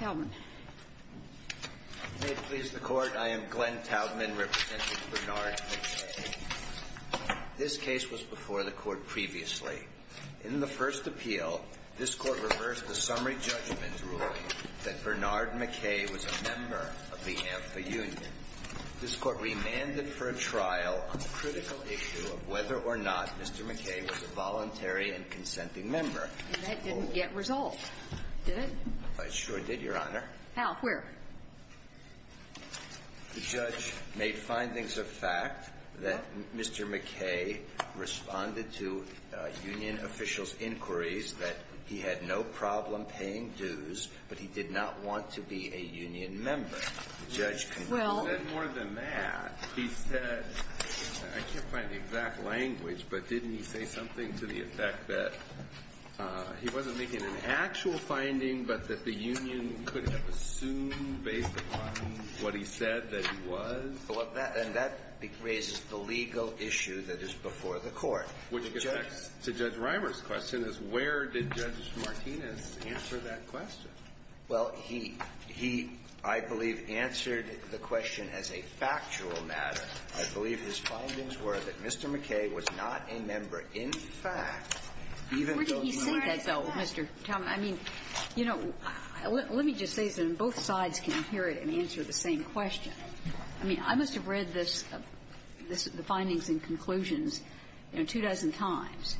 Helman. May it please the Court, I am Glenn Taubman representing Bernard McKay. This case was before the Court previously. In the first appeal, this Court reversed the summary judgment ruling that Bernard McKay was a member of the AMFA union. This Court remanded for a trial on the critical issue of whether or not Mr. McKay was a voluntary and consenting member. And that didn't get resolved, did it? It sure did, Your Honor. Al, where? The judge made findings of fact that Mr. McKay responded to union officials' inquiries that he had no problem paying dues, but he did not want to be a union member. The judge continued. He said more than that. He said, I can't find the exact language, but didn't he say something to the effect that he wasn't making an actual finding, but that the union couldn't have assumed based upon what he said that he was? And that raises the legal issue that is before the Court. Which gets back to Judge Reimer's question, is where did Judge Martinez answer that question? Well, he – he, I believe, answered the question as a factual matter. I believe his findings were that Mr. McKay was not a member. In fact, even though he was not a member. Where did he say that, though, Mr. Talmadge? I mean, you know, let me just say this, and both sides can hear it and answer the same question. I mean, I must have read this, the findings and conclusions, you know, two dozen times.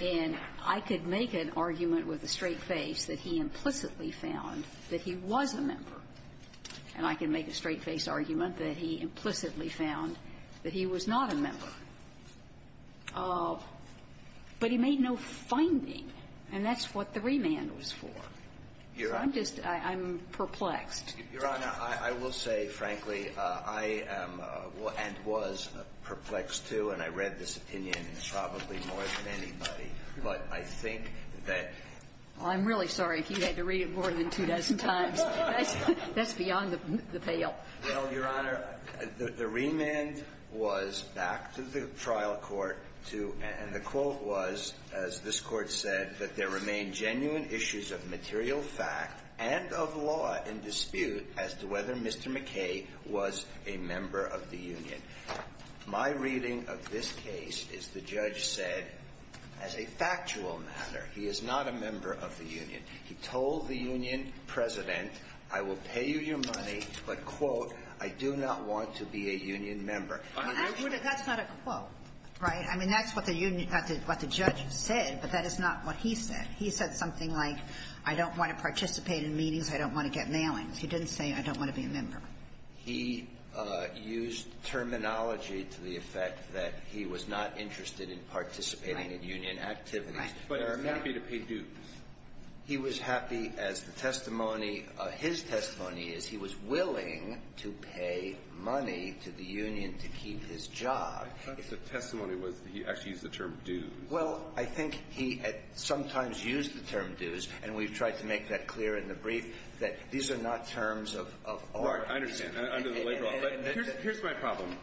And I could make an argument with a straight face that he implicitly found that he was a member. And I can make a straight-faced argument that he implicitly found that he was not a member. But he made no finding, and that's what the remand was for. I'm just – I'm perplexed. Your Honor, I will say, frankly, I am and was perplexed, too, and I read this opinion probably more than anybody, but I think that – Well, I'm really sorry if you had to read it more than two dozen times. That's beyond the veil. Well, Your Honor, the remand was back to the trial court to – and the quote was, as this Court said, that there remain genuine issues of material fact and of law and dispute as to whether Mr. McKay was a member of the union. My reading of this case is the judge said, as a factual matter, he is not a member of the union. He told the union president, I will pay you your money, but, quote, I do not want to be a union member. I mean, that's not a quote, right? I mean, that's what the union – what the judge said, but that is not what he said. He said something like, I don't want to participate in meetings, I don't want to get mailings. He didn't say, I don't want to be a member. He used terminology to the effect that he was not interested in participating in union activities. Right. But he was happy to pay dues. He was happy, as the testimony – his testimony is, he was willing to pay money to the union to keep his job. I thought the testimony was that he actually used the term dues. Well, I think he sometimes used the term dues, and we've tried to make that clear in the brief, that these are not terms of art. I understand, under the labor law, but here's my problem,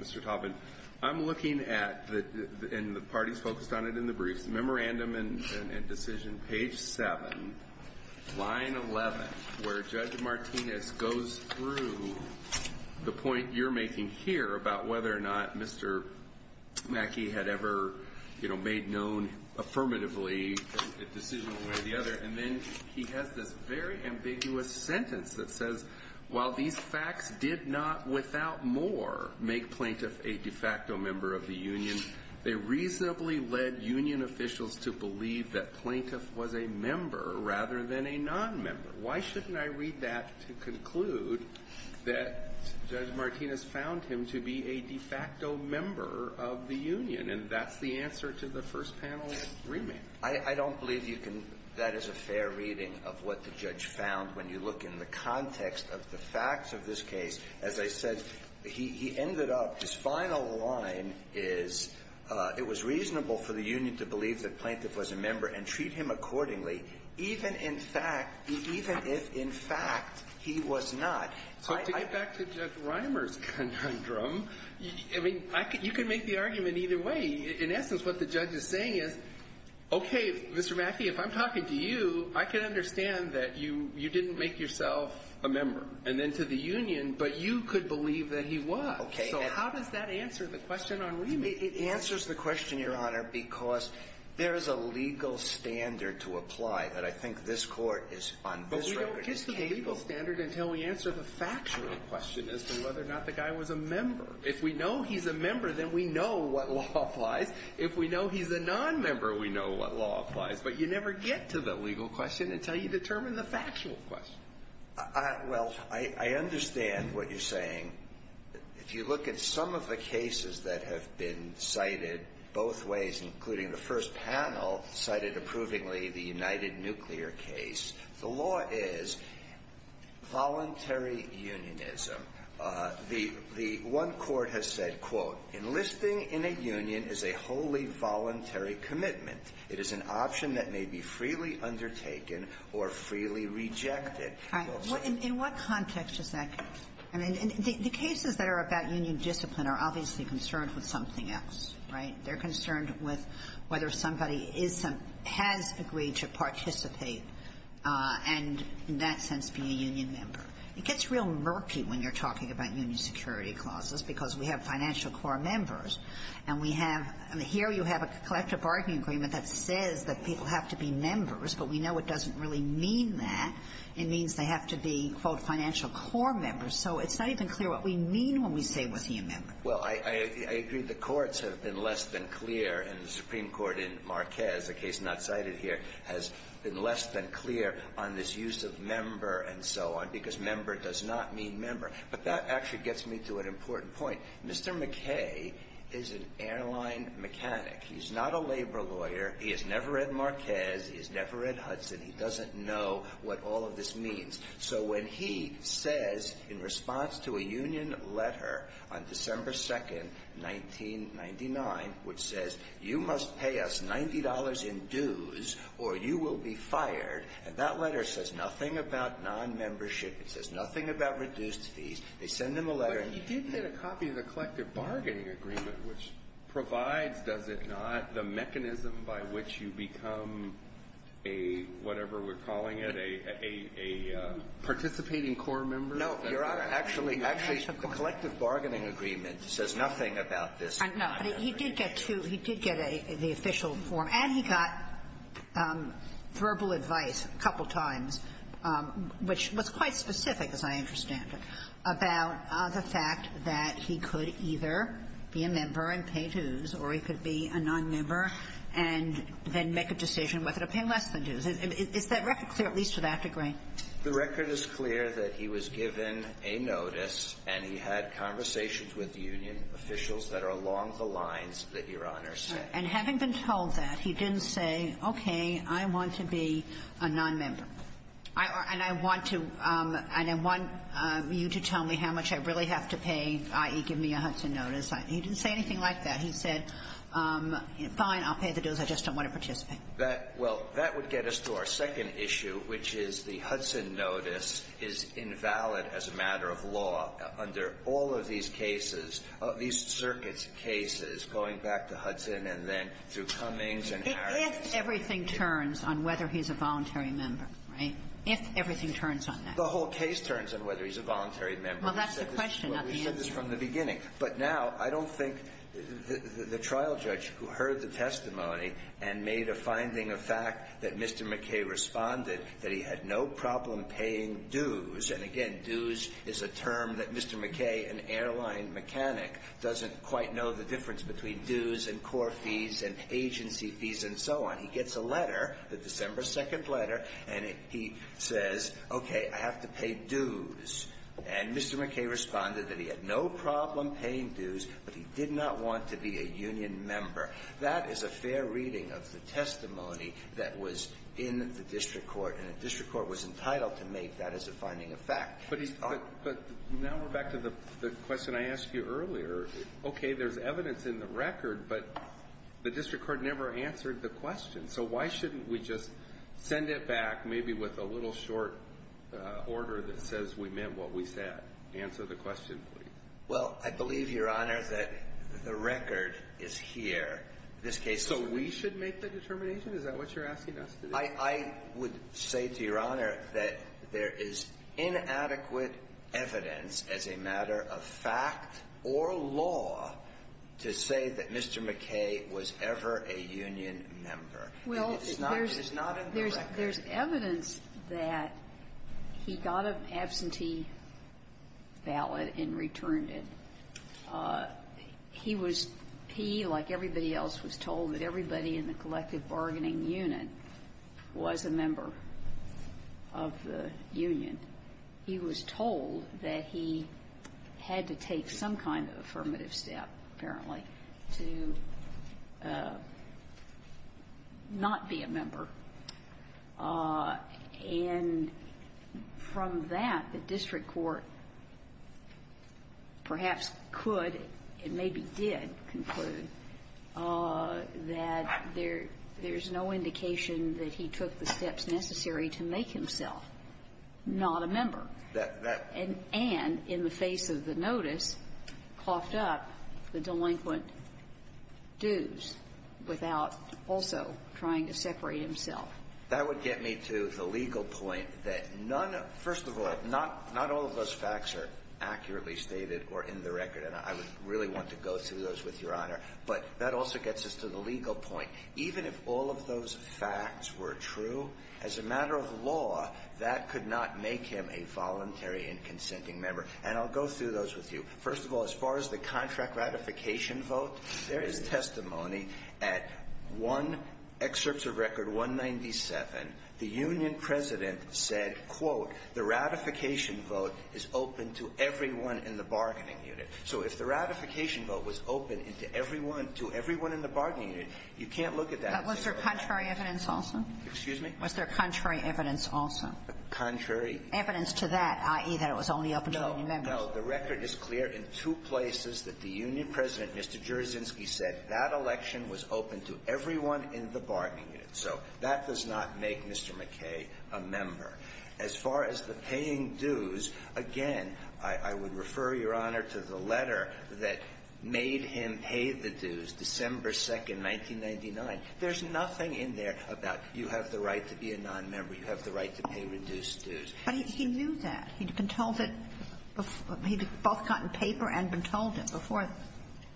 Mr. Taubman. I'm looking at, and the party's focused on it in the briefs, memorandum and decision page 7, line 11, where Judge Martinez goes through the point you're making here about whether or not Mr. Mackey had ever, you know, made known affirmatively a decision And then he has this very ambiguous sentence that says, while these facts did not without more make Plaintiff a de facto member of the union, they reasonably led union officials to believe that Plaintiff was a member rather than a non-member. Why shouldn't I read that to conclude that Judge Martinez found him to be a de facto member of the union? And that's the answer to the first panel's remand. I don't believe you can, that is a fair reading of what the judge found when you look in the context of the facts of this case. As I said, he ended up, his final line is, it was reasonable for the union to believe that Plaintiff was a member and treat him accordingly, even if in fact he was not. So to get back to Judge Reimer's conundrum, I mean, you can make the argument either way. In essence, what the judge is saying is, okay, Mr. Mackey, if I'm talking to you, I can understand that you didn't make yourself a member, and then to the union, but you could believe that he was. So how does that answer the question on remand? It answers the question, Your Honor, because there is a legal standard to apply that I think this court is on this record. But we don't get to the legal standard until we answer the factual question as to whether or not the guy was a member. If we know he's a member, then we know what law applies. If we know he's a non-member, we know what law applies. But you never get to the legal question until you determine the factual question. Well, I understand what you're saying. If you look at some of the cases that have been cited both ways, including the first panel cited approvingly the United Nuclear case, the law is voluntary unionism. The one court has said, quote, enlisting in a union is a wholly voluntary commitment. It is an option that may be freely undertaken or freely rejected. In what context does that come from? I mean, the cases that are about union discipline are obviously concerned with something else, right? They're concerned with whether somebody is some – has agreed to participate and in that sense be a union member. It gets real murky when you're talking about union security clauses because we have financial core members and we have – here you have a collective bargaining agreement that says that people have to be members, but we know it doesn't really mean that. It means they have to be, quote, financial core members. So it's not even clear what we mean when we say was he a member. Well, I agree the courts have been less than clear and the Supreme Court in Marquez, a case not cited here, has been less than clear on this use of member and so on because member does not mean member. But that actually gets me to an important point. Mr. McKay is an airline mechanic. He's not a labor lawyer. He has never read Marquez. He has never read Hudson. He doesn't know what all of this means. So when he says in response to a union letter on December 2nd, 1999, which says, you must pay us $90 in dues or you will be fired, and that letter says nothing about non-membership. It says nothing about reduced fees. They send him a letter. But he did get a copy of the collective bargaining agreement, which provides, does it not, the mechanism by which you become a whatever we're calling it, a – a participating core member. No, Your Honor. Actually, actually, the collective bargaining agreement says nothing about this. No. But he did get two. He did get the official form. And he got verbal advice a couple times, which was quite specific, as I understand it, about the fact that he could either be a member and pay dues or he could be a non-member and then make a decision whether to pay less than dues. Is that record clear, at least to that degree? The record is clear that he was given a notice and he had conversations with union officials that are along the lines that Your Honor said. And having been told that, he didn't say, okay, I want to be a non-member. I – and I want to – and I want you to tell me how much I really have to pay, i.e., give me a Hudson notice. He didn't say anything like that. He said, fine, I'll pay the dues. I just don't want to participate. That – well, that would get us to our second issue, which is the Hudson notice is invalid as a matter of law under all of these cases, these circuits' cases, going back to Hudson and then through Cummings and Harris. If everything turns on whether he's a voluntary member, right? If everything turns on that. The whole case turns on whether he's a voluntary member. Well, that's the question, not the answer. We said this from the beginning. But now I don't think the trial judge who heard the testimony and made a finding of fact that Mr. McKay responded that he had no problem paying dues, and again, dues is a term that Mr. McKay, an airline mechanic, doesn't quite know the difference between dues and core fees and agency fees and so on. He gets a letter, the December 2nd letter, and he says, okay, I have to pay dues. And Mr. McKay responded that he had no problem paying dues, but he did not want to be a union member. That is a fair reading of the testimony that was in the district court, and the district court was entitled to make that as a finding of fact. But now we're back to the question I asked you earlier. Okay, there's evidence in the record, but the district court never answered the question. So why shouldn't we just send it back, maybe with a little short order that says we meant what we said? Answer the question, please. Well, I believe, Your Honor, that the record is here. This case- So we should make the determination? Is that what you're asking us to do? I would say to Your Honor that there is inadequate evidence as a matter of fact or law to say that Mr. McKay was ever a union member. Well, there's- It's not in the record. There's evidence that he got an absentee ballot and returned it. He was he, like everybody else, was told that everybody in the collective bargaining unit was a member of the union. He was told that he had to take some kind of affirmative step, apparently, to not be a member. And from that, the district court perhaps could and maybe did conclude that there is no indication that he took the steps necessary to make himself not a member. And in the face of the notice, coughed up the delinquent dues without also trying to separate himself. That would get me to the legal point that none of the – first of all, not all of those facts are accurately stated or in the record. And I would really want to go through those with Your Honor. But that also gets us to the legal point. Even if all of those facts were true, as a matter of law, that could not make him a voluntary and consenting member. And I'll go through those with you. First of all, as far as the contract ratification vote, there is testimony at one excerpt of Record 197, the union president said, quote, the ratification vote is open to everyone in the bargaining unit. So if the ratification vote was open to everyone in the bargaining unit, you can't look at that. Was there contrary evidence also? Excuse me? Was there contrary evidence also? Contrary. Evidence to that, i.e., that it was only open to union members. No, no. The record is clear in two places that the union president, Mr. Juriczynski, said that election was open to everyone in the bargaining unit. So that does not make Mr. McKay a member. As far as the paying dues, again, I would refer, Your Honor, to the letter that made him pay the dues, December 2nd, 1999. There's nothing in there about you have the right to be a nonmember, you have the right to pay reduced dues. But he knew that. He'd been told that he'd both gotten paper and been told it before.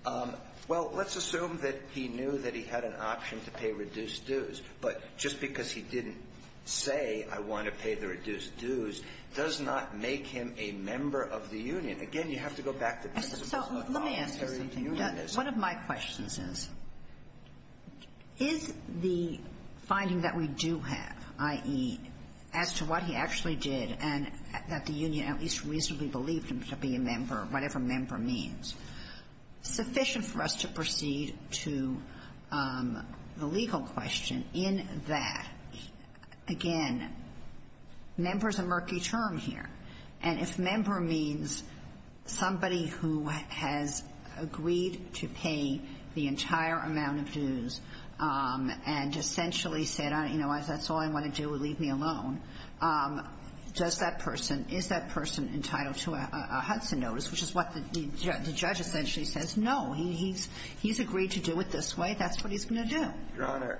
Well, let's assume that he knew that he had an option to pay reduced dues. But just because he didn't say, I want to pay the reduced dues, does not make him a member of the union. Again, you have to go back to business of voluntary unionism. So let me ask you something. One of my questions is, is the finding that we do have, i.e., as to what he actually did and that the union at least reasonably believed him to be a member, whatever member means, sufficient for us to proceed to the legal question in that, again, member's a murky term here. And if member means somebody who has agreed to pay the entire amount of dues and essentially said, that's all I want to do, leave me alone, is that person entitled to a Hudson notice, which is what the judge essentially says, no. He's agreed to do it this way. That's what he's going to do. Your Honor,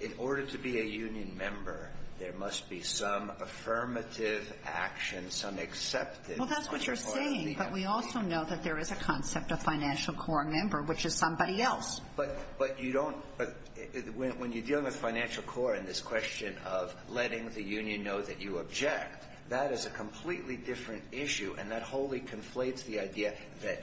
in order to be a union member, there must be some affirmative action, some acceptance. Well, that's what you're saying. But we also know that there is a concept of financial corps member, which is somebody else. But you don't – when you're dealing with financial corps and this question of letting the union know that you object, that is a completely different issue. And that wholly conflates the idea that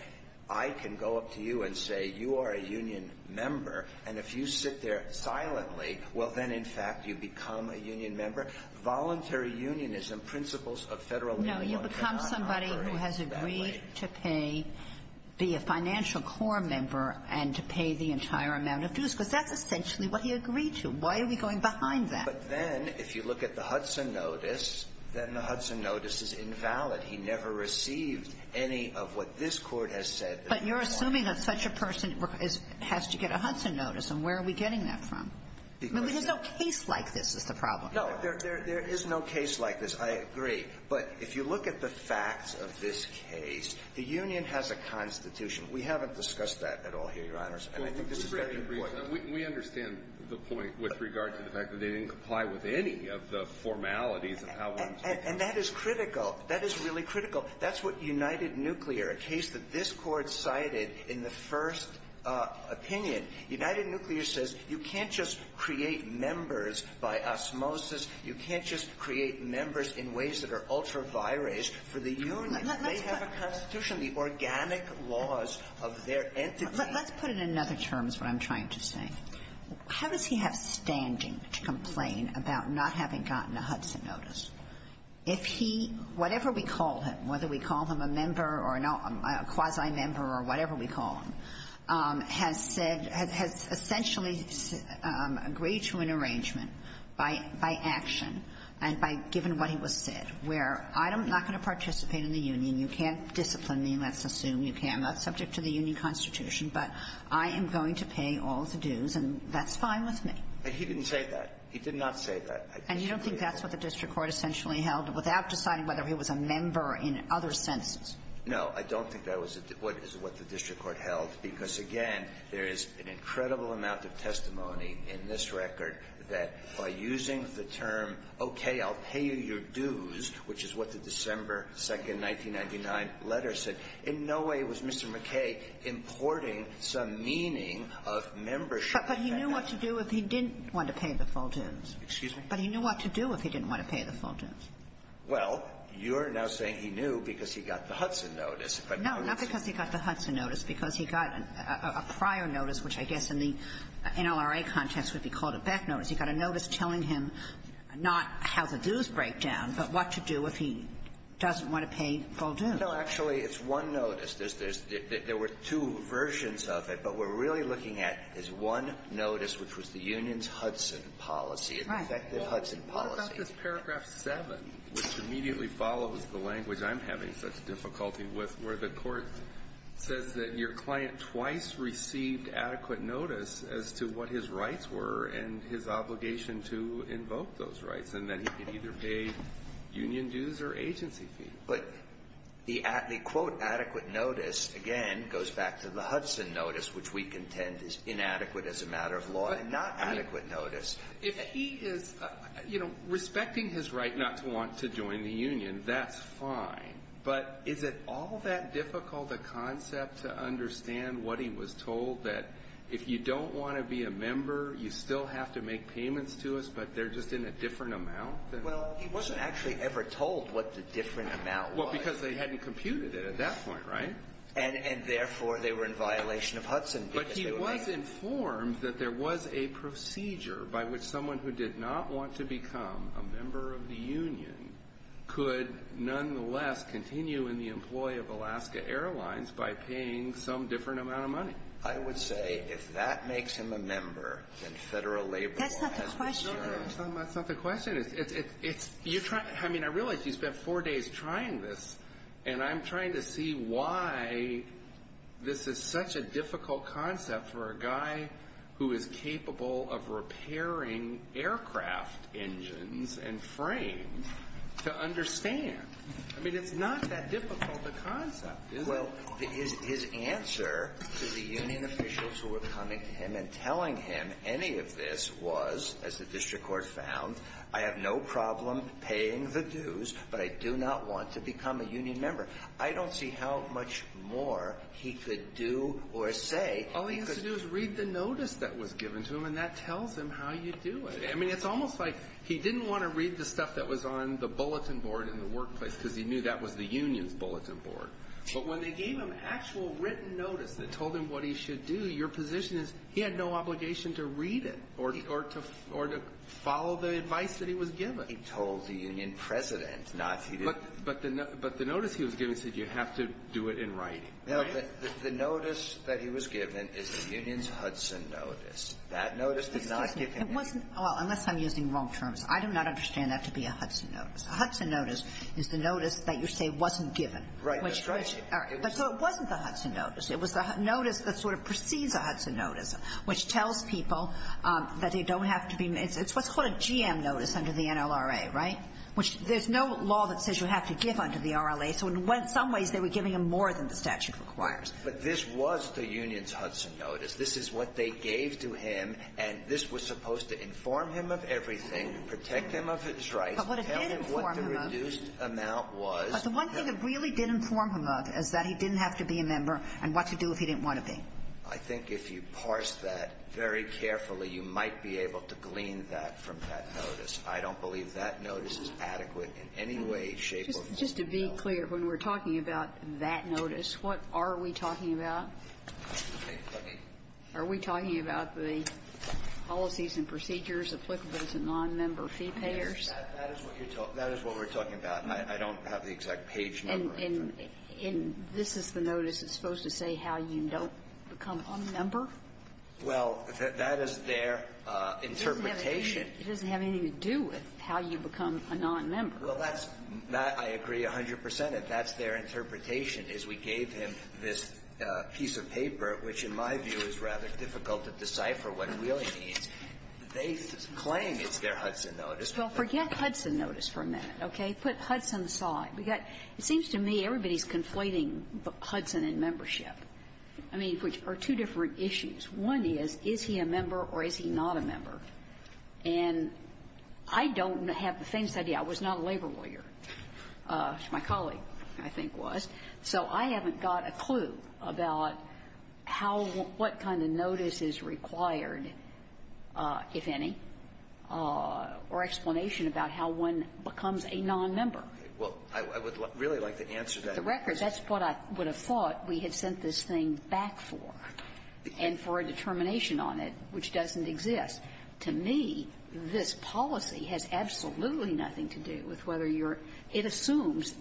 I can go up to you and say, you are a union member. And if you sit there silently, well, then, in fact, you become a union member. Voluntary unionism, principles of Federal Law, do not operate that way. No, you become somebody who has agreed to pay – be a financial corps member and to pay the entire amount of dues, because that's essentially what he agreed to. Why are we going behind that? But then, if you look at the Hudson notice, then the Hudson notice is invalid. He never received any of what this Court has said that's valid. But you're assuming that such a person has to get a Hudson notice. And where are we getting that from? Because – I mean, there's no case like this is the problem. No, there is no case like this. I agree. But if you look at the facts of this case, the union has a constitution. We haven't discussed that at all here, Your Honors. And I think this is very important. We understand the point with regard to the fact that they didn't comply with any of the formalities of how one's – And that is critical. That is really critical. That's what United Nuclear, a case that this Court cited in the first opinion, United Nuclear says you can't just create members by osmosis. You can't just create members in ways that are ultra vires for the union. They have a constitution, the organic laws of their entity. Let's put it in other terms, what I'm trying to say. How does he have standing to complain about not having gotten a Hudson notice if he – whatever we call him, whether we call him a member or a quasi-member or whatever we call him, has said – has essentially agreed to an arrangement by action and by – given what he was said, where I'm not going to participate in the union, you can't discipline me, let's assume you can. I'm not subject to the union constitution, but I am going to pay all the dues, and that's fine with me. But he didn't say that. He did not say that. And you don't think that's what the district court essentially held without deciding whether he was a member in other senses? No, I don't think that was what the district court held, because, again, there is an incredible amount of testimony in this record that by using the term, okay, I'll pay you your dues, which is what the December 2, 1999, letter said, in no way was Mr. McKay importing some meaning of membership. But he knew what to do if he didn't want to pay the full dues. Excuse me? But he knew what to do if he didn't want to pay the full dues. Well, you're now saying he knew because he got the Hudson notice. No, not because he got the Hudson notice. Because he got a prior notice, which I guess in the NLRA context would be called a back notice. He got a notice telling him not how the dues break down, but what to do if he doesn't want to pay full dues. No, actually, it's one notice. There's there were two versions of it, but what we're really looking at is one notice, which was the union's Hudson policy, an effective Hudson policy. What about this paragraph 7, which immediately follows the language I'm having such difficulty with, where the court says that your client twice received adequate notice as to what his rights were and his obligation to invoke those rights, and that he could either pay union dues or agency fees? But the quote adequate notice, again, goes back to the Hudson notice, which we contend is inadequate as a matter of law and not adequate notice. If he is respecting his right not to want to join the union, that's fine. But is it all that difficult a concept to understand what he was told that if you don't want to be a member, you still have to make payments to us, but they're just in a different amount? Well, he wasn't actually ever told what the different amount was. Well, because they hadn't computed it at that point, right? And therefore, they were in violation of Hudson. But he was informed that there was a procedure by which someone who did not want to become a member of the union could nonetheless continue in the employ of Alaska Airlines by paying some different amount of money. I would say, if that makes him a member, then Federal labor law has been shared. That's not the question. No, that's not the question. I mean, I realize you spent four days trying this. And I'm trying to see why this is such a difficult concept for a guy who is capable of repairing aircraft engines and frames to understand. I mean, it's not that difficult a concept, is it? Well, his answer to the union officials who were coming to him and telling him any of this was, as the district court found, I have no problem paying the dues, but I do not want to become a union member. I don't see how much more he could do or say. All he has to do is read the notice that was given to him, and that tells him how you do it. I mean, it's almost like he didn't want to read the stuff that was on the bulletin board in the workplace, because he knew that was the union's bulletin board. But when they gave him actual written notice that told him what he should do, your position is he had no obligation to read it or to follow the advice that he was given. He told the union president not to do it. But the notice he was given said you have to do it in writing. No, but the notice that he was given is the union's Hudson notice. That notice did not give him anything. Well, unless I'm using wrong terms, I do not understand that to be a Hudson notice. A Hudson notice is the notice that you say wasn't given. Right. That's right. All right. But so it wasn't the Hudson notice. It was the notice that sort of precedes a Hudson notice, which tells people that they don't have to be made. It's what's called a GM notice under the NLRA, right, which there's no law that says you have to give under the RLA. So in some ways, they were giving him more than the statute requires. But this was the union's Hudson notice. This is what they gave to him, and this was supposed to inform him of everything, protect him of his rights, tell him what the reduced amount was. But what it did inform him of, but the one thing it really did inform him of is that he didn't have to be a member and what to do if he didn't want to be. I think if you parse that very carefully, you might be able to glean that from that notice. I don't believe that notice is adequate in any way, shape, or form at all. Just to be clear, when we're talking about that notice, what are we talking about? Are we talking about the policies and procedures applicable to nonmember fee payers? That is what you're talking about. That is what we're talking about. I don't have the exact page number. And this is the notice that's supposed to say how you don't become a member? Well, that is their interpretation. It doesn't have anything to do with how you become a nonmember. Well, that's my agree 100 percent. If that's their interpretation, is we gave him this piece of paper, which in my view is rather difficult to decipher what Wheeling means. They claim it's their Hudson notice. Well, forget Hudson notice for a minute, okay? Put Hudson aside. It seems to me everybody's conflating Hudson and membership, I mean, which are two different issues. One is, is he a member or is he not a member? And I don't have the faintest idea. I was not a labor lawyer. My colleague, I think, was. So I haven't got a clue about how or what kind of notice is required, if any, or explanation about how one becomes a nonmember. Well, I would really like to answer that. The record, that's what I would have thought we had sent this thing back for, and for a determination on it, which doesn't exist. To me, this policy has absolutely nothing to do with whether you're – it assumes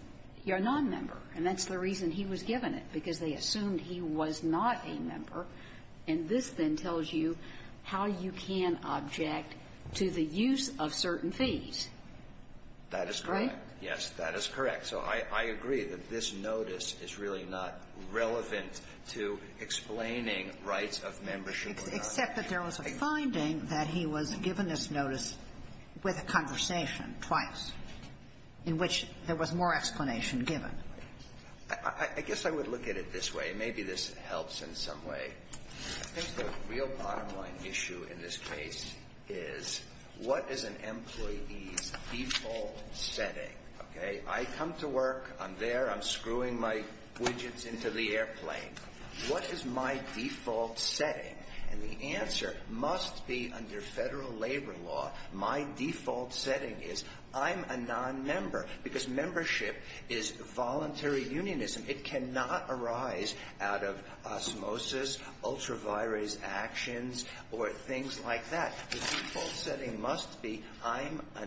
you're a nonmember, and that's the reason he was given it, because they assumed he was not a member. And this, then, tells you how you can object to the use of certain fees. That is correct. Yes, that is correct. So I agree that this notice is really not relevant to explaining rights of membership or not. Except that there was a finding that he was given this notice with a conversation twice, in which there was more explanation given. I guess I would look at it this way. Maybe this helps in some way. I think the real bottom line issue in this case is, what is an employee's default setting? Okay? I come to work. I'm there. I'm screwing my widgets into the airplane. What is my default setting? And the answer must be, under federal labor law, my default setting is, I'm a nonmember, because membership is voluntary unionism. It cannot arise out of osmosis, ultra-virus actions, or things like that. The default setting must be, I'm a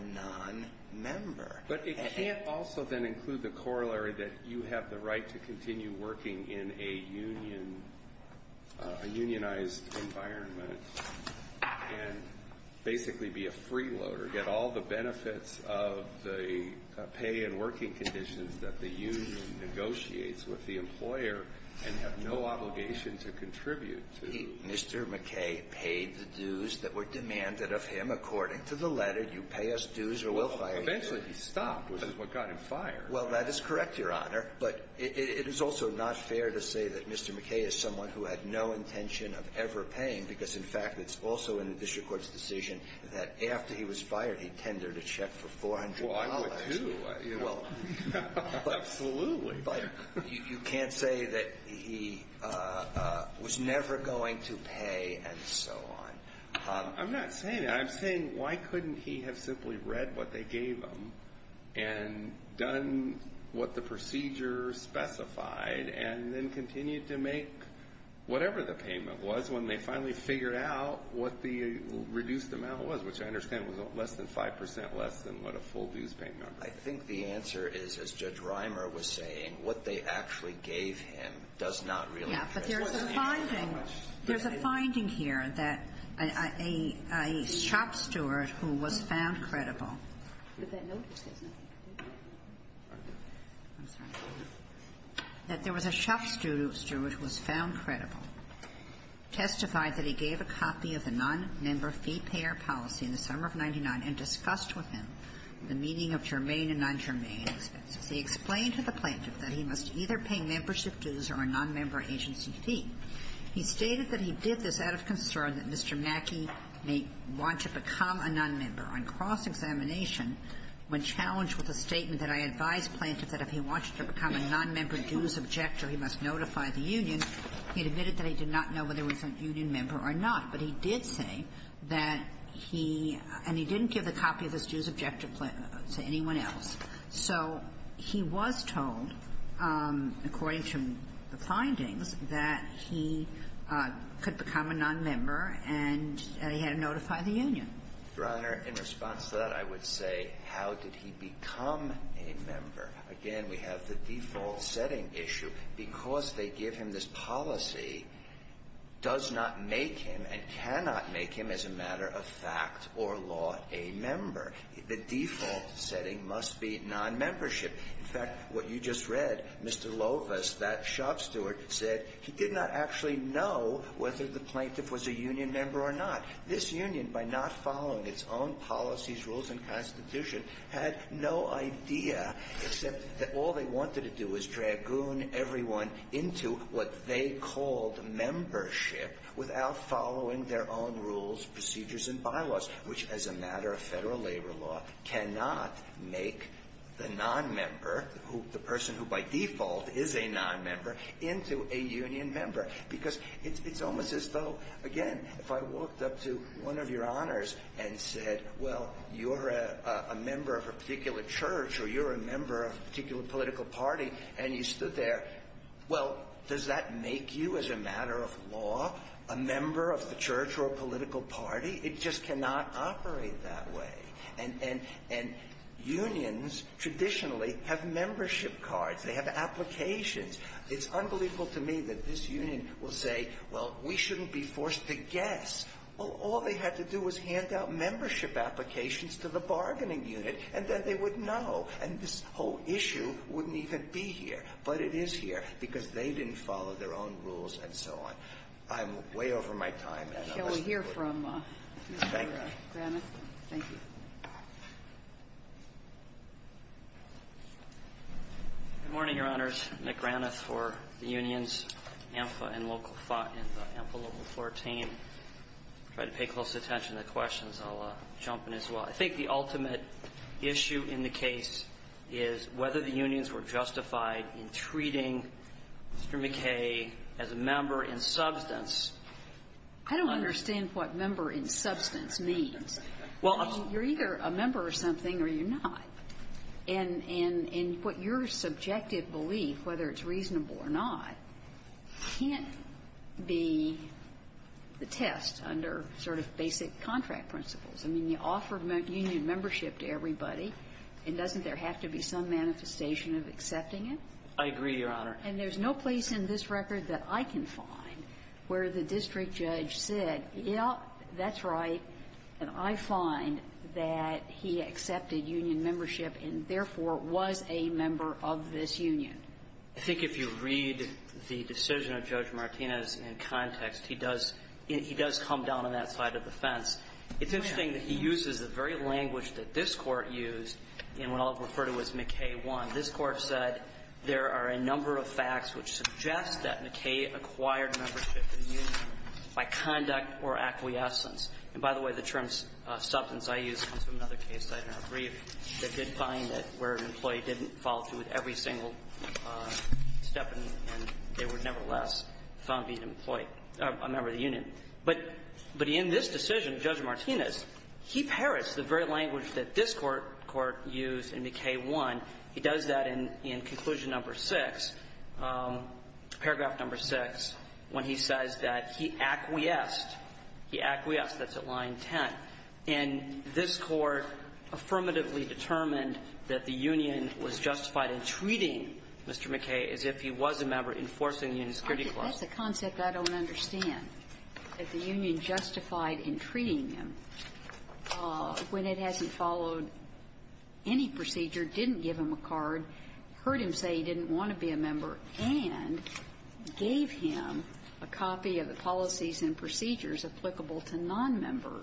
nonmember. But it can't also, then, include the corollary that you have the right to continue working in a unionized environment and basically be a freeloader, get all the benefits with the employer, and have no obligation to contribute to the union. Mr. McKay paid the dues that were demanded of him, according to the letter. You pay us dues or we'll fire you. Well, eventually he stopped, which is what got him fired. Well, that is correct, Your Honor. But it is also not fair to say that Mr. McKay is someone who had no intention of ever paying, because, in fact, it's also in the district court's decision that after he was fired, he tendered a check for $400. Well, I would, too. Absolutely. But you can't say that he was never going to pay and so on. I'm not saying that. I'm saying, why couldn't he have simply read what they gave him and done what the procedure specified and then continued to make whatever the payment was when they finally figured out what the reduced amount was, which I understand was less than 5% less than what a full dues payment would be. I think the answer is, as Judge Reimer was saying, what they actually gave him does not really address that. Yeah, but there's a finding here that a shop steward who was found credible Did that notice this? I'm sorry. That there was a shop steward who was found credible, testified that he gave a copy of the non-member fee payer policy in the summer of 99 and discussed with him the meaning of germane and non-germane expenses. He explained to the plaintiff that he must either pay membership dues or a non-member agency fee. He stated that he did this out of concern that Mr. Mackey may want to become a non-member. On cross-examination, when challenged with a statement that I advised plaintiff that if he wanted to become a non-member dues objector, he must notify the union, he admitted that he did not know whether he was a union member or not. But he did say that he, and he didn't give a copy of this dues objector plan to anyone else. So he was told, according to the findings, that he could become a non-member and he had to notify the union. Your Honor, in response to that, I would say, how did he become a member? Again, we have the default setting issue. Because they give him this policy, does not make him and cannot make him as a matter of fact or law a member. The default setting must be non-membership. In fact, what you just read, Mr. Lovis, that shop steward, said he did not actually know whether the plaintiff was a union member or not. This union, by not following its own policies, rules, and constitution, had no idea except that all they wanted to do was dragoon everyone into what they called membership without following their own rules, procedures, and bylaws, which, as a matter of Federal labor law, cannot make the non-member, the person who by default is a non-member, into a union member. Because it's almost as though, again, if I walked up to one of Your Honors and said, well, you're a member of a particular church, or you're a member of a particular political party, and you stood there, well, does that make you, as a matter of law, a member of the church or a political party? It just cannot operate that way. And unions traditionally have membership cards. They have applications. It's unbelievable to me that this union will say, well, we shouldn't be forced to guess. Well, all they had to do was hand out membership applications to the bargaining unit, and then they would know. And this whole issue wouldn't even be here. But it is here because they didn't follow their own rules and so on. I'm way over my time. And I'll listen to it. Thank you. McGrath. McGrath. McGrath. McGrath. McGrath. McGrath. McGrath. McGrath. McGrath. McGrath. McGrath. McGrath. McGrath. I'll try to pay close attention to the questions. I'll jump in as well. I think the ultimate issue in the case is whether the unions were justified in treating Mr. McKay as a member in substance. I don't understand what member in substance means. Well, I'm sorry. You're either a member of something or you're not. And what your subjective belief, whether it's reasonable or not, can't be the test. I mean, you offered union membership to everybody. And doesn't there have to be some manifestation of accepting it? I agree, Your Honor. And there's no place in this record that I can find where the district judge said, yeah, that's right, and I find that he accepted union membership and, therefore, was a member of this union. I think if you read the decision of Judge Martinez in context, he does come down on that side of the fence. It's interesting that he uses the very language that this Court used in what I'll refer to as McKay 1. This Court said there are a number of facts which suggest that McKay acquired membership in the union by conduct or acquiescence. And, by the way, the term substance I used comes from another case that I did not step in, and they were nevertheless found to be an employee or a member of the union. But in this decision, Judge Martinez, he parrots the very language that this Court used in McKay 1. He does that in Conclusion No. 6, paragraph No. 6, when he says that he acquiesced. He acquiesced. That's at line 10. And this Court affirmatively determined that the union was justified in treating Mr. McKay as if he was a member in enforcing the union's security clause. That's a concept I don't understand, that the union justified in treating him when it hasn't followed any procedure, didn't give him a card, heard him say he didn't want to be a member, and gave him a copy of the policies and procedures applicable to nonmember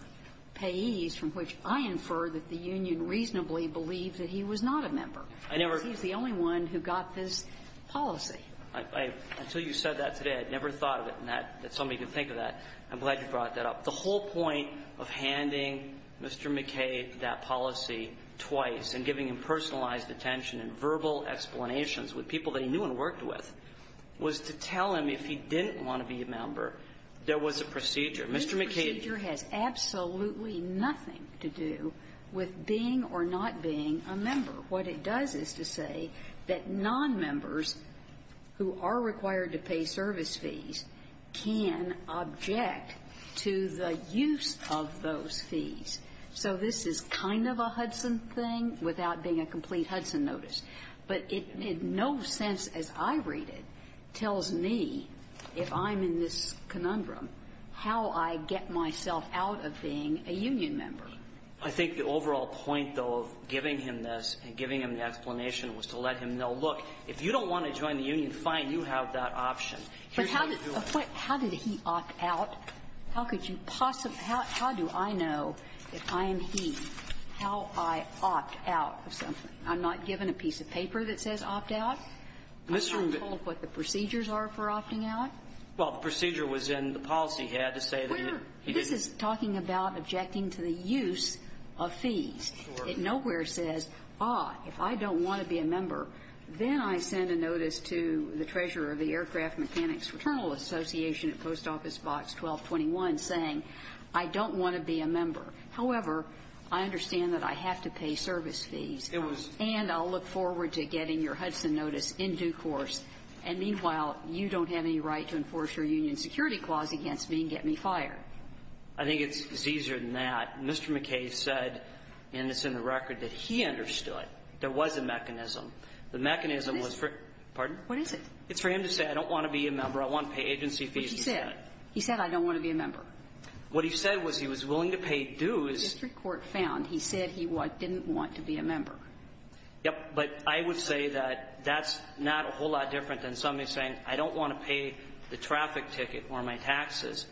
payees, from which I infer that the union reasonably believed that he was not a member. I never ---- He's the only one who got this policy. I ---- until you said that today, I never thought of it in that ---- that somebody can think of that. I'm glad you brought that up. The whole point of handing Mr. McKay that policy twice and giving him personalized attention and verbal explanations with people that he knew and worked with was to tell him if he didn't want to be a member, there was a procedure. Mr. McKay ---- This procedure has absolutely nothing to do with being or not being a member. What it does is to say that nonmembers who are required to pay service fees can object to the use of those fees. So this is kind of a Hudson thing without being a complete Hudson notice. But it in no sense, as I read it, tells me, if I'm in this conundrum, how I get myself out of being a union member. I think the overall point, though, of giving him this and giving him the explanation was to let him know, look, if you don't want to join the union, fine, you have that option. Here's how you do it. But how did he opt out? How could you possibly ---- how do I know if I am he, how I opt out of something? I'm not given a piece of paper that says opt out? I'm not told what the procedures are for opting out? He had to say that he didn't ---- But this is talking about objecting to the use of fees. It nowhere says, ah, if I don't want to be a member, then I send a notice to the treasurer of the Aircraft Mechanics Fraternal Association at Post Office Box 1221 saying, I don't want to be a member. However, I understand that I have to pay service fees. And I'll look forward to getting your Hudson notice in due course. And meanwhile, you don't have any right to enforce your union security clause against me and get me fired. I think it's easier than that. Mr. McKay said, and it's in the record, that he understood there was a mechanism. The mechanism was for ---- Pardon? What is it? It's for him to say, I don't want to be a member. I want to pay agency fees. But he said, he said, I don't want to be a member. What he said was he was willing to pay dues. The district court found he said he didn't want to be a member. Yes. But I would say that that's not a whole lot different than somebody saying, I don't want to pay the traffic ticket or my taxes,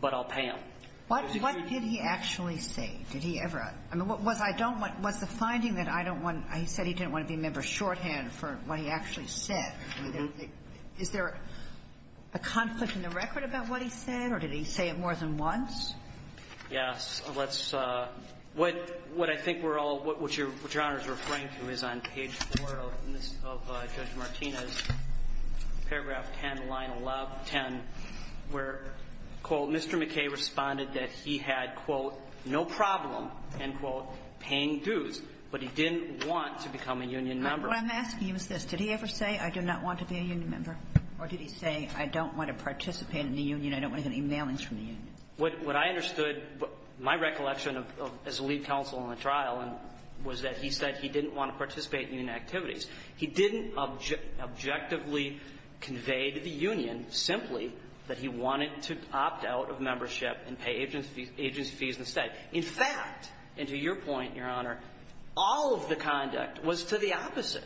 but I'll pay them. What did he actually say? Did he ever ---- I mean, was I don't want to ---- was the finding that I don't want to ---- he said he didn't want to be a member shorthand for what he actually said. Is there a conflict in the record about what he said, or did he say it more than once? Yes. Let's ---- what I think we're all ---- what Your Honor is referring to is on page 4 of Judge Martinez, paragraph 10, line 1110, where, quote, Mr. McKay responded that he had, quote, no problem, end quote, paying dues, but he didn't want to become a union member. What I'm asking you is this. Did he ever say, I do not want to be a union member, or did he say, I don't want to participate in the union, I don't want to get any mailings from the union? What I understood, my recollection as a lead counsel in the trial was that he said he didn't want to participate in union activities. He didn't objectively convey to the union simply that he wanted to opt out of membership and pay agency fees instead. In fact, and to your point, Your Honor, all of the conduct was to the opposite.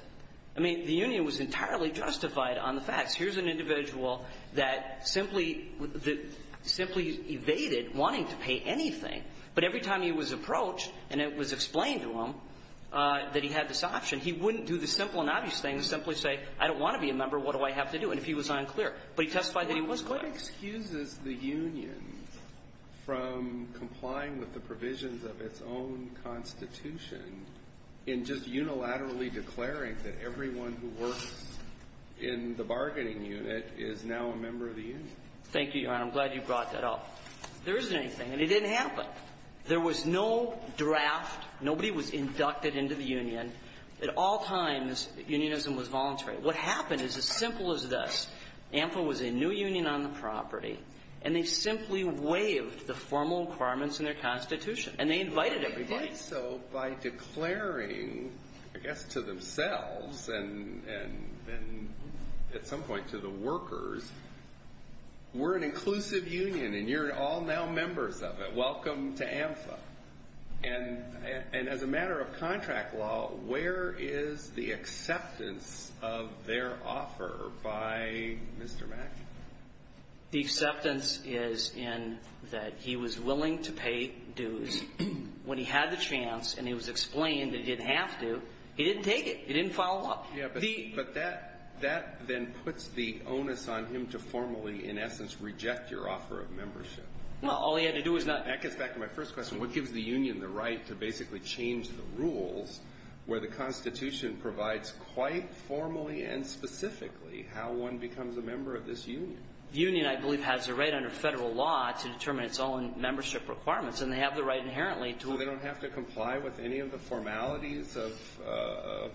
I mean, the union was entirely justified on the facts. Here's an individual that simply evaded wanting to pay anything, but every time he was approached and it was explained to him that he had this option, he wouldn't do the simple and obvious thing, simply say, I don't want to be a member. What do I have to do? And if he was unclear. But he testified that he was going to. But what excuses the union from complying with the provisions of its own Constitution in just unilaterally declaring that everyone who works in the bargaining unit is now a member of the union? Thank you, Your Honor. I'm glad you brought that up. There isn't anything. And it didn't happen. There was no draft. Nobody was inducted into the union. At all times, unionism was voluntary. What happened is as simple as this. AMFA was a new union on the property, and they simply waived the formal requirements in their Constitution, and they invited everybody. So by declaring, I guess, to themselves and at some point to the workers, we're an inclusive union, and you're all now members of it. Welcome to AMFA. And as a matter of contract law, where is the acceptance of their offer by Mr. Mack? The acceptance is in that he was willing to pay dues. When he had the chance and it was explained that he didn't have to, he didn't take it. He didn't follow up. Yeah, but that then puts the onus on him to formally, in essence, reject your offer of membership. Well, all he had to do was not. That gets back to my first question. What gives the union the right to basically change the rules where the Constitution provides quite formally and specifically how one becomes a member of this union? The union, I believe, has a right under federal law to determine its own membership requirements, and they have the right inherently to. So they don't have to comply with any of the formalities of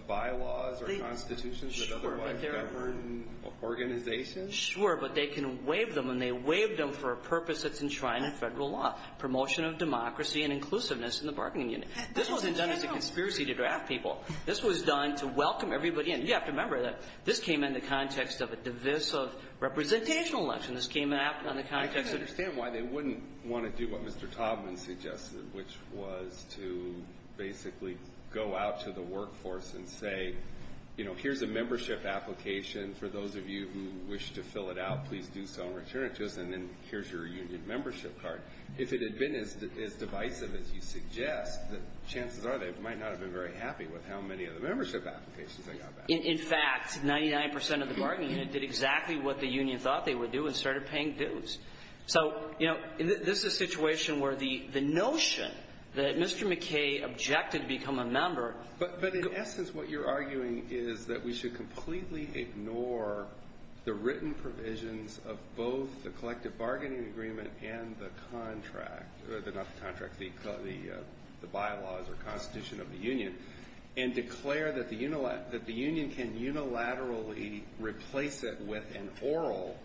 bylaws or constitutions that otherwise govern organizations? Sure, but they can waive them, and they waive them for a purpose that's enshrined in federal law, promotion of democracy and inclusiveness in the bargaining unit. This wasn't done as a conspiracy to draft people. This was done to welcome everybody in. You have to remember that this came in the context of a divisive representational election. This came in the context of. I can understand why they wouldn't want to do what Mr. Taubman suggested, which was to basically go out to the workforce and say, you know, here's a membership application for those of you who wish to fill it out. Please do so and return it to us. And then here's your union membership card. If it had been as divisive as you suggest, the chances are they might not have been very happy with how many of the membership applications they got back. In fact, 99 percent of the bargaining unit did exactly what the union thought they would do and started paying dues. So, you know, this is a situation where the notion that Mr. McKay objected to become a member. But in essence, what you're arguing is that we should completely ignore the written provisions of both the collective bargaining agreement and the contract, not the contract, the bylaws or constitution of the union, and declare that the union can unilaterally replace it with an oral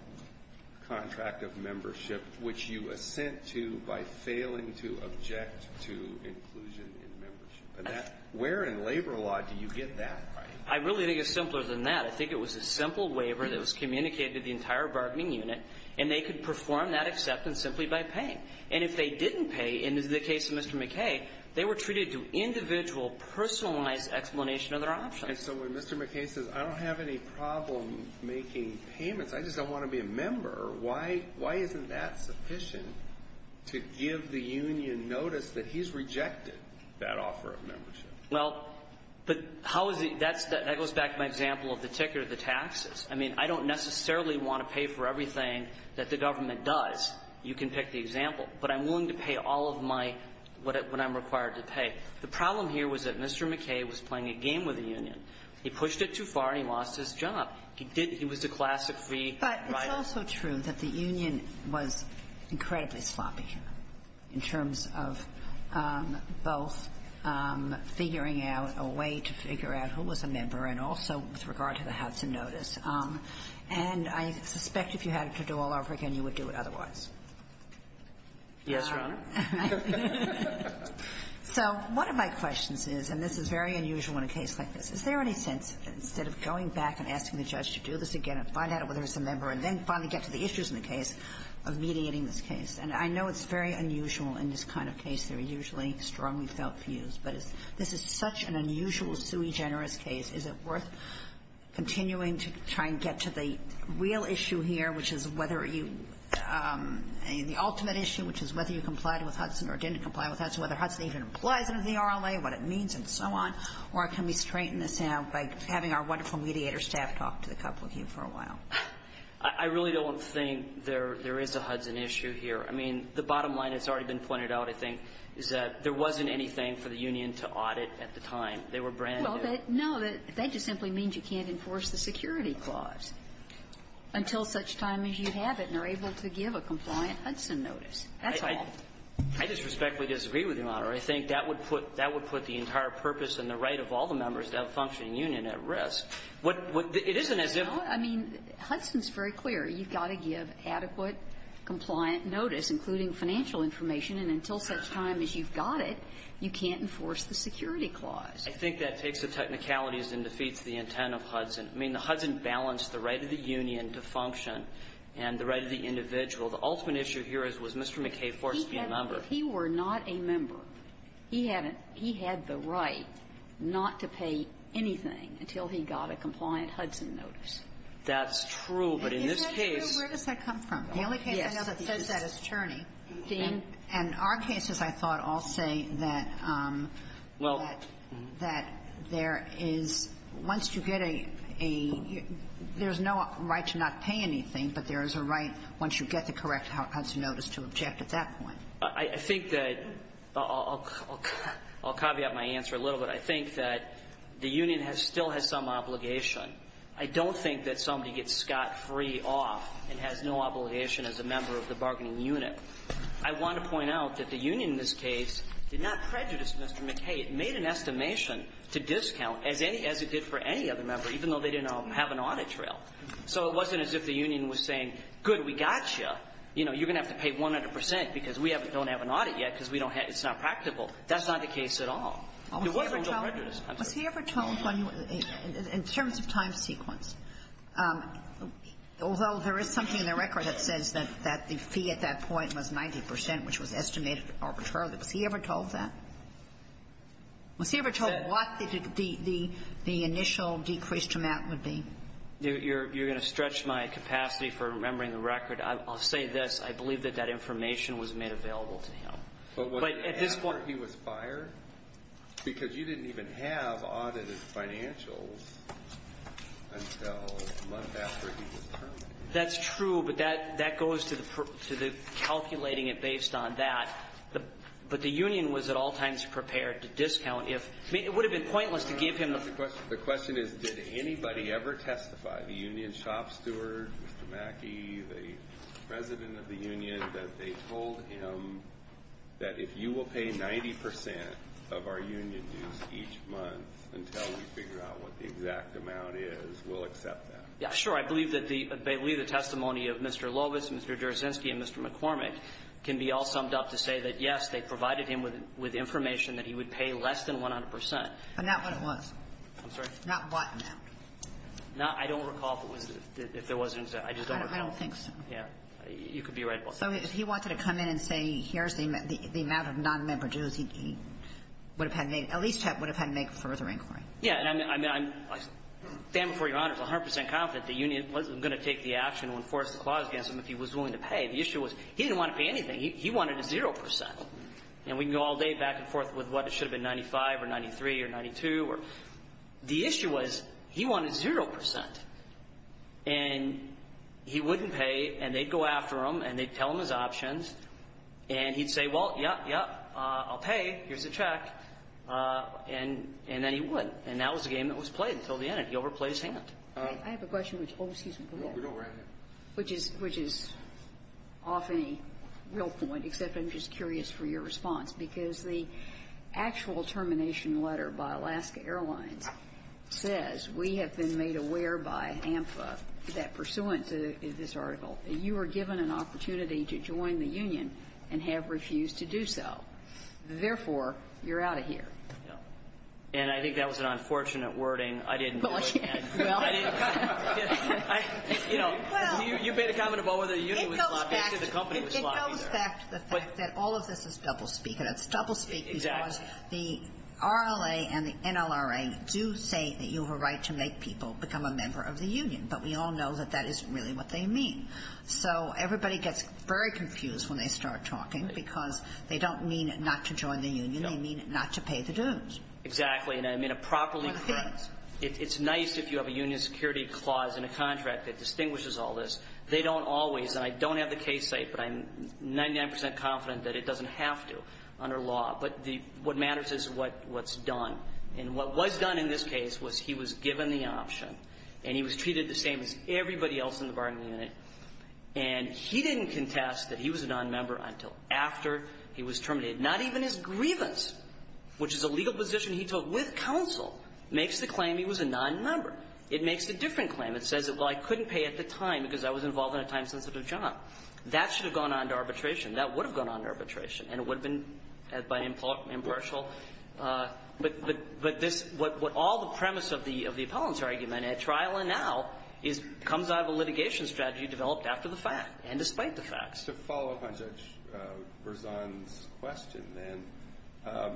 contract of membership, which you assent to by failing to object to inclusion in membership. Where in labor law do you get that right? I really think it's simpler than that. I think it was a simple waiver that was communicated to the entire bargaining unit, and they could perform that acceptance simply by paying. And if they didn't pay, and this is the case of Mr. McKay, they were treated to individual, personalized explanation of their options. And so when Mr. McKay says, I don't have any problem making payments, I just don't want to be a member, why isn't that sufficient to give the union notice that he's rejected that offer of membership? Well, but how is it that's the – that goes back to my example of the ticker, the taxes. I mean, I don't necessarily want to pay for everything that the government does. You can pick the example. But I'm willing to pay all of my – what I'm required to pay. The problem here was that Mr. McKay was playing a game with the union. He pushed it too far, and he lost his job. He did – he was the classic free rider. But it's also true that the union was incredibly sloppy here in terms of both figuring out a way to figure out who was a member and also with regard to the how-to notice. And I suspect if you had to do all over again, you would do it otherwise. Yes, Your Honor. So one of my questions is, and this is very unusual in a case like this, is there any sense that instead of going back and asking the judge to do this again and find out whether it's a member and then finally get to the issues in the case of mediating this case? And I know it's very unusual in this kind of case. There are usually strongly felt views. But this is such an unusual, sui generis case. Is it worth continuing to try and get to the real issue here, which is whether you – the ultimate issue, which is whether you complied with Hudson or didn't comply with Hudson, whether Hudson even applies under the RLA, what it means, and so on? Or can we straighten this out by having our wonderful mediator staff talk to the public for a while? I really don't think there is a Hudson issue here. I mean, the bottom line has already been pointed out, I think, is that there wasn't anything for the union to audit at the time. They were brand new. Well, no. That just simply means you can't enforce the security clause until such time as you have it and are able to give a compliant Hudson notice. That's all. I disrespectfully disagree with you, Your Honor. I think that would put the entire purpose and the right of all the members of that functioning union at risk. What – it isn't as if – No. I mean, Hudson's very clear. You've got to give adequate, compliant notice, including financial information, and until such time as you've got it, you can't enforce the security clause. I think that takes the technicalities and defeats the intent of Hudson. I mean, the Hudson balanced the right of the union to function and the right of the individual. The ultimate issue here is, was Mr. McKay forced to be a member? He were not a member. He had the right not to pay anything until he got a compliant Hudson notice. That's true. But in this case – Where does that come from? The only case I know that says that is Churney. And our cases, I thought, all say that there is – once you get a – there is no right to not pay anything, but there is a right, once you get the correct Hudson notice, to object at that point. I think that – I'll caveat my answer a little bit. I think that the union still has some obligation. I don't think that somebody gets scot-free off and has no obligation as a member of the bargaining unit. I want to point out that the union in this case did not prejudice Mr. McKay. It made an estimation to discount, as it did for any other member, even though they didn't have an audit trail. So it wasn't as if the union was saying, good, we got you. You know, you're going to have to pay 100 percent because we don't have an audit yet because we don't have – it's not practical. That's not the case at all. There was no prejudice. Was he ever told when – in terms of time sequence, although there is something in the record that says that the fee at that point was 90 percent, which was estimated arbitrarily. Was he ever told that? Was he ever told what the initial decreased amount would be? You're going to stretch my capacity for remembering the record. I'll say this. I believe that that information was made available to him. But at this point – But wasn't it after he was fired? Because you didn't even have audited financials until a month after he was terminated. That's true, but that goes to the calculating it based on that. But the union was at all times prepared to discount if – it would have been pointless to give him – The question is, did anybody ever testify? The union shop steward, Mr. Mackey, the president of the union, that they told him that if you will pay 90 percent of our union dues each month until we figure out what the exact amount is, we'll accept that. Yeah, sure. I believe that the – I believe the testimony of Mr. Lovis, Mr. Dersinsky, and Mr. McCormick can be all summed up to say that, yes, they provided him with information that he would pay less than 100 percent. But not what it was. I'm sorry? Not what amount. Not – I don't recall if it was – if there was an exact – I just don't recall. I don't think so. Yeah. You could be right about that. So if he wanted to come in and say, here's the amount of nonmember dues, he would have had made – at least would have had to make a further inquiry. Yeah. And I'm – I stand before Your Honors 100 percent confident the union wasn't going to take the action and enforce the clause against him if he was willing to pay. The issue was, he didn't want to pay anything. He wanted a zero percent. And we can go all day back and forth with what should have been 95 or 93 or 92 or – the issue was, he wanted zero percent, and he wouldn't pay, and they'd go after him, and they'd tell him his options, and he'd say, well, yeah, yeah, I'll pay, here's the check, and then he would. And that was the game that was played until the end, and he overplayed his hand. I have a question which – oh, excuse me. Go right ahead. Which is – which is often a real point, except I'm just curious for your response, because the actual termination letter by Alaska Airlines says, we have been made aware by AMFA that pursuant to this article, you are given an opportunity to join the union and have refused to do so. Therefore, you're out of here. Yeah. And I think that was an unfortunate wording. I didn't – Well, again, well – I didn't – I – you know, you made a comment about whether the union was sloppy. I said the company was sloppy there. Well, it goes back to the fact that all of this is doublespeak, and it's doublespeak because the RLA and the NLRA do say that you have a right to make people become a member of the union, but we all know that that isn't really what they mean. So everybody gets very confused when they start talking, because they don't mean not to join the union, they mean not to pay the dues. Exactly, and I mean a properly – Or a fee. It's nice if you have a union security clause in a contract that distinguishes all this. They don't always, and I don't have the case site, but I'm 99 percent confident that it doesn't have to under law. But the – what matters is what's done. And what was done in this case was he was given the option, and he was treated the same as everybody else in the bargaining unit, and he didn't contest that he was a nonmember until after he was terminated. Not even his grievance, which is a legal position he took with counsel, makes the claim he was a nonmember. It makes a different claim. It says that, well, I couldn't pay at the time because I was involved in a time-sensitive job. That should have gone on to arbitration. That would have gone on to arbitration, and it would have been by impartial – but this – what all the premise of the appellant's argument at trial and now is – comes out of a litigation strategy developed after the fact, and despite the fact. To follow up on Judge Berzon's question, then,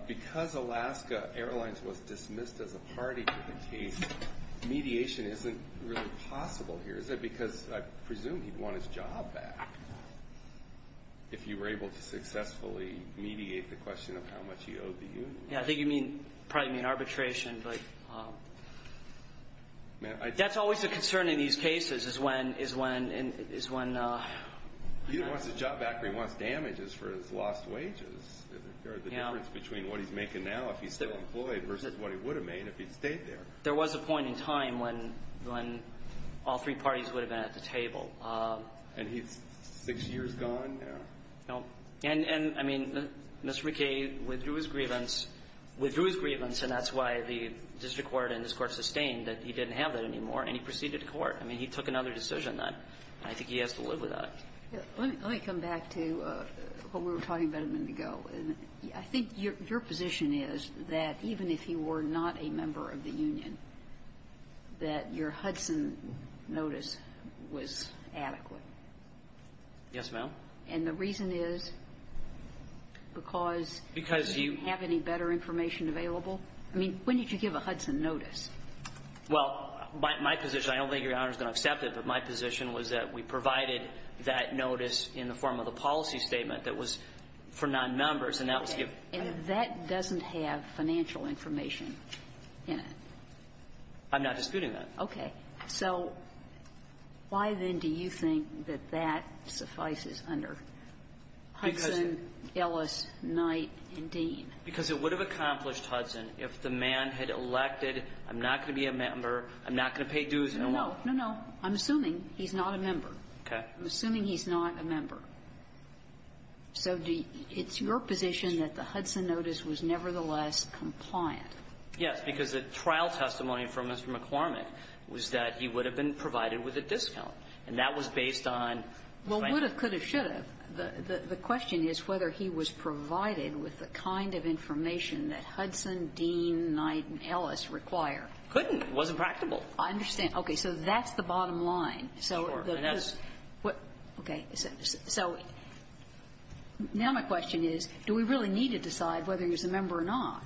because Alaska Airlines was dismissed as a party to the case, mediation isn't really possible here, is it? Because I presume he'd want his job back if you were able to successfully mediate the question of how much he owed the union. Yeah, I think you mean – probably mean arbitration, but that's always a concern in these cases, is when – is when – is when – He wants his job back, but he wants damages for his lost wages. Is there a difference between what he's making now if he's still employed versus what he would have made if he'd stayed there? There was a point in time when – when all three parties would have been at the table. And he's six years gone now? No. And – and, I mean, Mr. McKay withdrew his grievance – withdrew his grievance, and that's why the district court and this Court sustained that he didn't have that anymore, and he proceeded to court. I mean, he took another decision then, and I think he has to live without it. Let me – let me come back to what we were talking about a minute ago. I think your position is that even if you were not a member of the union, that your Hudson notice was adequate. Yes, ma'am. And the reason is because you didn't have any better information available? I mean, when did you give a Hudson notice? Well, my position – I don't think Your Honor's going to accept it, but my position was that we provided that notice in the form of a policy statement that was for non-members, and that was given – Okay. And that doesn't have financial information in it? I'm not disputing that. Okay. So why, then, do you think that that suffices under Hudson, Ellis, Knight, and Dean? Because it would have accomplished Hudson if the man had elected, I'm not going to No, no, no. I'm assuming he's not a member. Okay. I'm assuming he's not a member. So do you – it's your position that the Hudson notice was nevertheless compliant? Yes, because the trial testimony from Mr. McCormick was that he would have been provided with a discount, and that was based on the financial – Well, would have, could have, should have. The question is whether he was provided with the kind of information that Hudson, Dean, Knight, and Ellis require. Couldn't. It wasn't practical. I understand. Okay. So that's the bottom line. Sure. And that's – Okay. So now my question is, do we really need to decide whether he was a member or not?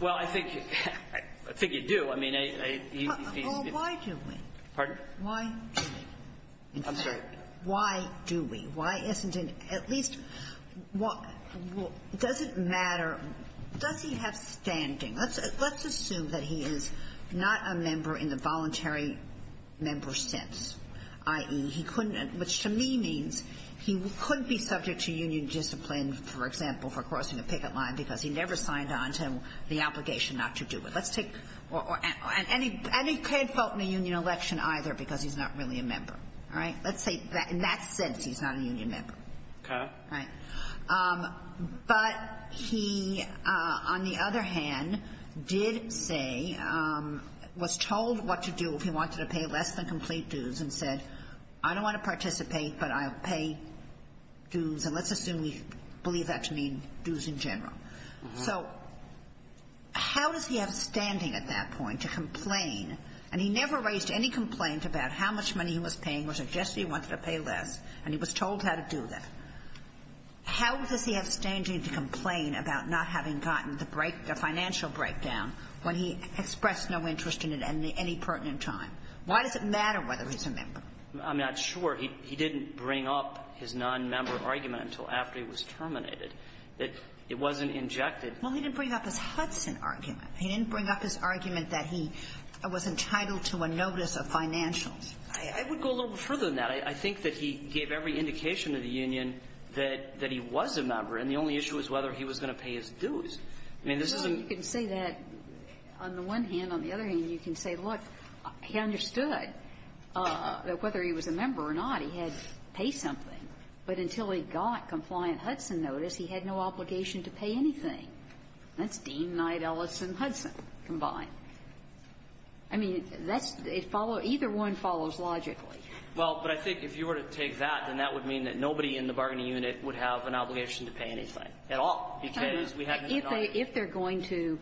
Well, I think you do. I mean, he's – Well, why do we? Pardon? Why do we? I'm sorry. Why do we? Why isn't it at least – does it matter – does he have standing? Let's assume that he is not a member in the voluntary member sense, i.e., he couldn't – which to me means he couldn't be subject to union discipline, for example, for crossing a picket line because he never signed on to the obligation not to do it. Let's take – and he can't vote in a union election either because he's not really a member. All right? Let's say in that sense he's not a union member. Okay. Right. But he, on the other hand, did say – was told what to do if he wanted to pay less than complete dues and said, I don't want to participate, but I'll pay dues. And let's assume we believe that to mean dues in general. So how does he have standing at that point to complain? And he never raised any complaint about how much money he was paying or suggested he wanted to pay less. And he was told how to do that. How does he have standing to complain about not having gotten the break – the financial breakdown when he expressed no interest in it at any pertinent time? Why does it matter whether he's a member? I'm not sure. He didn't bring up his nonmember argument until after he was terminated, that it wasn't injected. Well, he didn't bring up his Hudson argument. He didn't bring up his argument that he was entitled to a notice of financials. I would go a little bit further than that. I think that he gave every indication to the union that he was a member, and the only issue was whether he was going to pay his dues. I mean, this is a – Well, you can say that on the one hand. On the other hand, you can say, look, he understood that whether he was a member or not, he had to pay something. But until he got compliant Hudson notice, he had no obligation to pay anything. That's Dean, Knight, Ellis, and Hudson combined. I mean, that's – it follows – either one follows logically. Well, but I think if you were to take that, then that would mean that nobody in the bargaining unit would have an obligation to pay anything at all, because we hadn't had an argument. If they're going to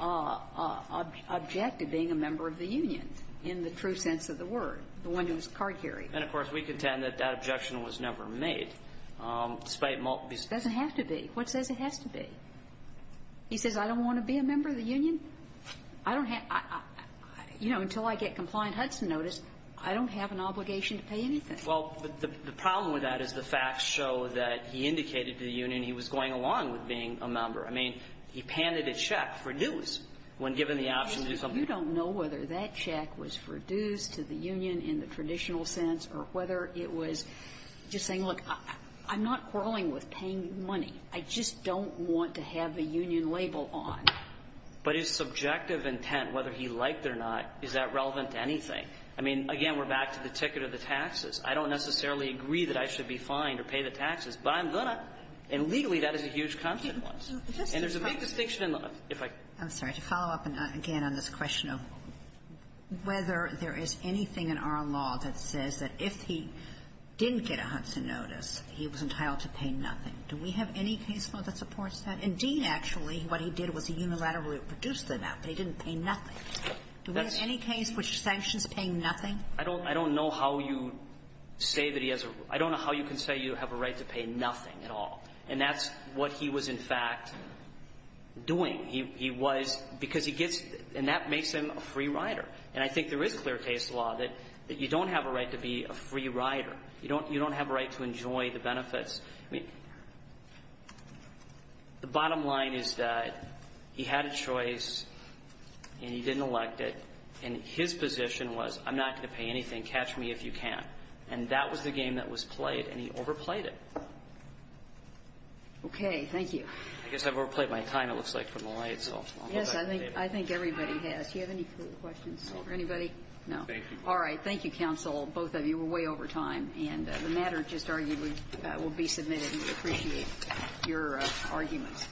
object to being a member of the union in the true sense of the word, the one who was card-carried. And, of course, we contend that that objection was never made, despite multiple – It doesn't have to be. What says it has to be? He says, I don't want to be a member of the union? I don't have – you know, until I get compliant Hudson notice, I don't have an obligation to pay anything. Well, the problem with that is the facts show that he indicated to the union he was going along with being a member. I mean, he panted a check for dues when given the option to do something. You don't know whether that check was for dues to the union in the traditional sense or whether it was just saying, look, I'm not quarreling with paying money. I just don't want to have a union label on. But his subjective intent, whether he liked it or not, is that relevant to anything? I mean, again, we're back to the ticket or the taxes. I don't necessarily agree that I should be fined or pay the taxes, but I'm going to. And legally, that is a huge consequence. And there's a big distinction in the law. If I could. I'm sorry. To follow up, again, on this question of whether there is anything in our law that says that if he didn't get a Hudson notice, he was entitled to pay nothing. Do we have any case law that supports that? In Dean, actually, what he did was he unilaterally produced the map. They didn't pay nothing. Do we have any case which sanctions paying nothing? I don't know how you say that he has a – I don't know how you can say you have a right to pay nothing at all. And that's what he was, in fact, doing. He was – because he gets – and that makes him a free rider. And I think there is clear case law that you don't have a right to be a free rider. You don't have a right to enjoy the benefits. I mean, the bottom line is that he had a choice and he didn't elect it. And his position was, I'm not going to pay anything. Catch me if you can't. And that was the game that was played, and he overplayed it. Okay. Thank you. I guess I've overplayed my time, it looks like, from the light, so I'll go back to the table. Yes, I think everybody has. Do you have any further questions for anybody? No. All right. Thank you, counsel. Both of you were way over time. And the matter, it's just argued, will be submitted. We appreciate your arguments.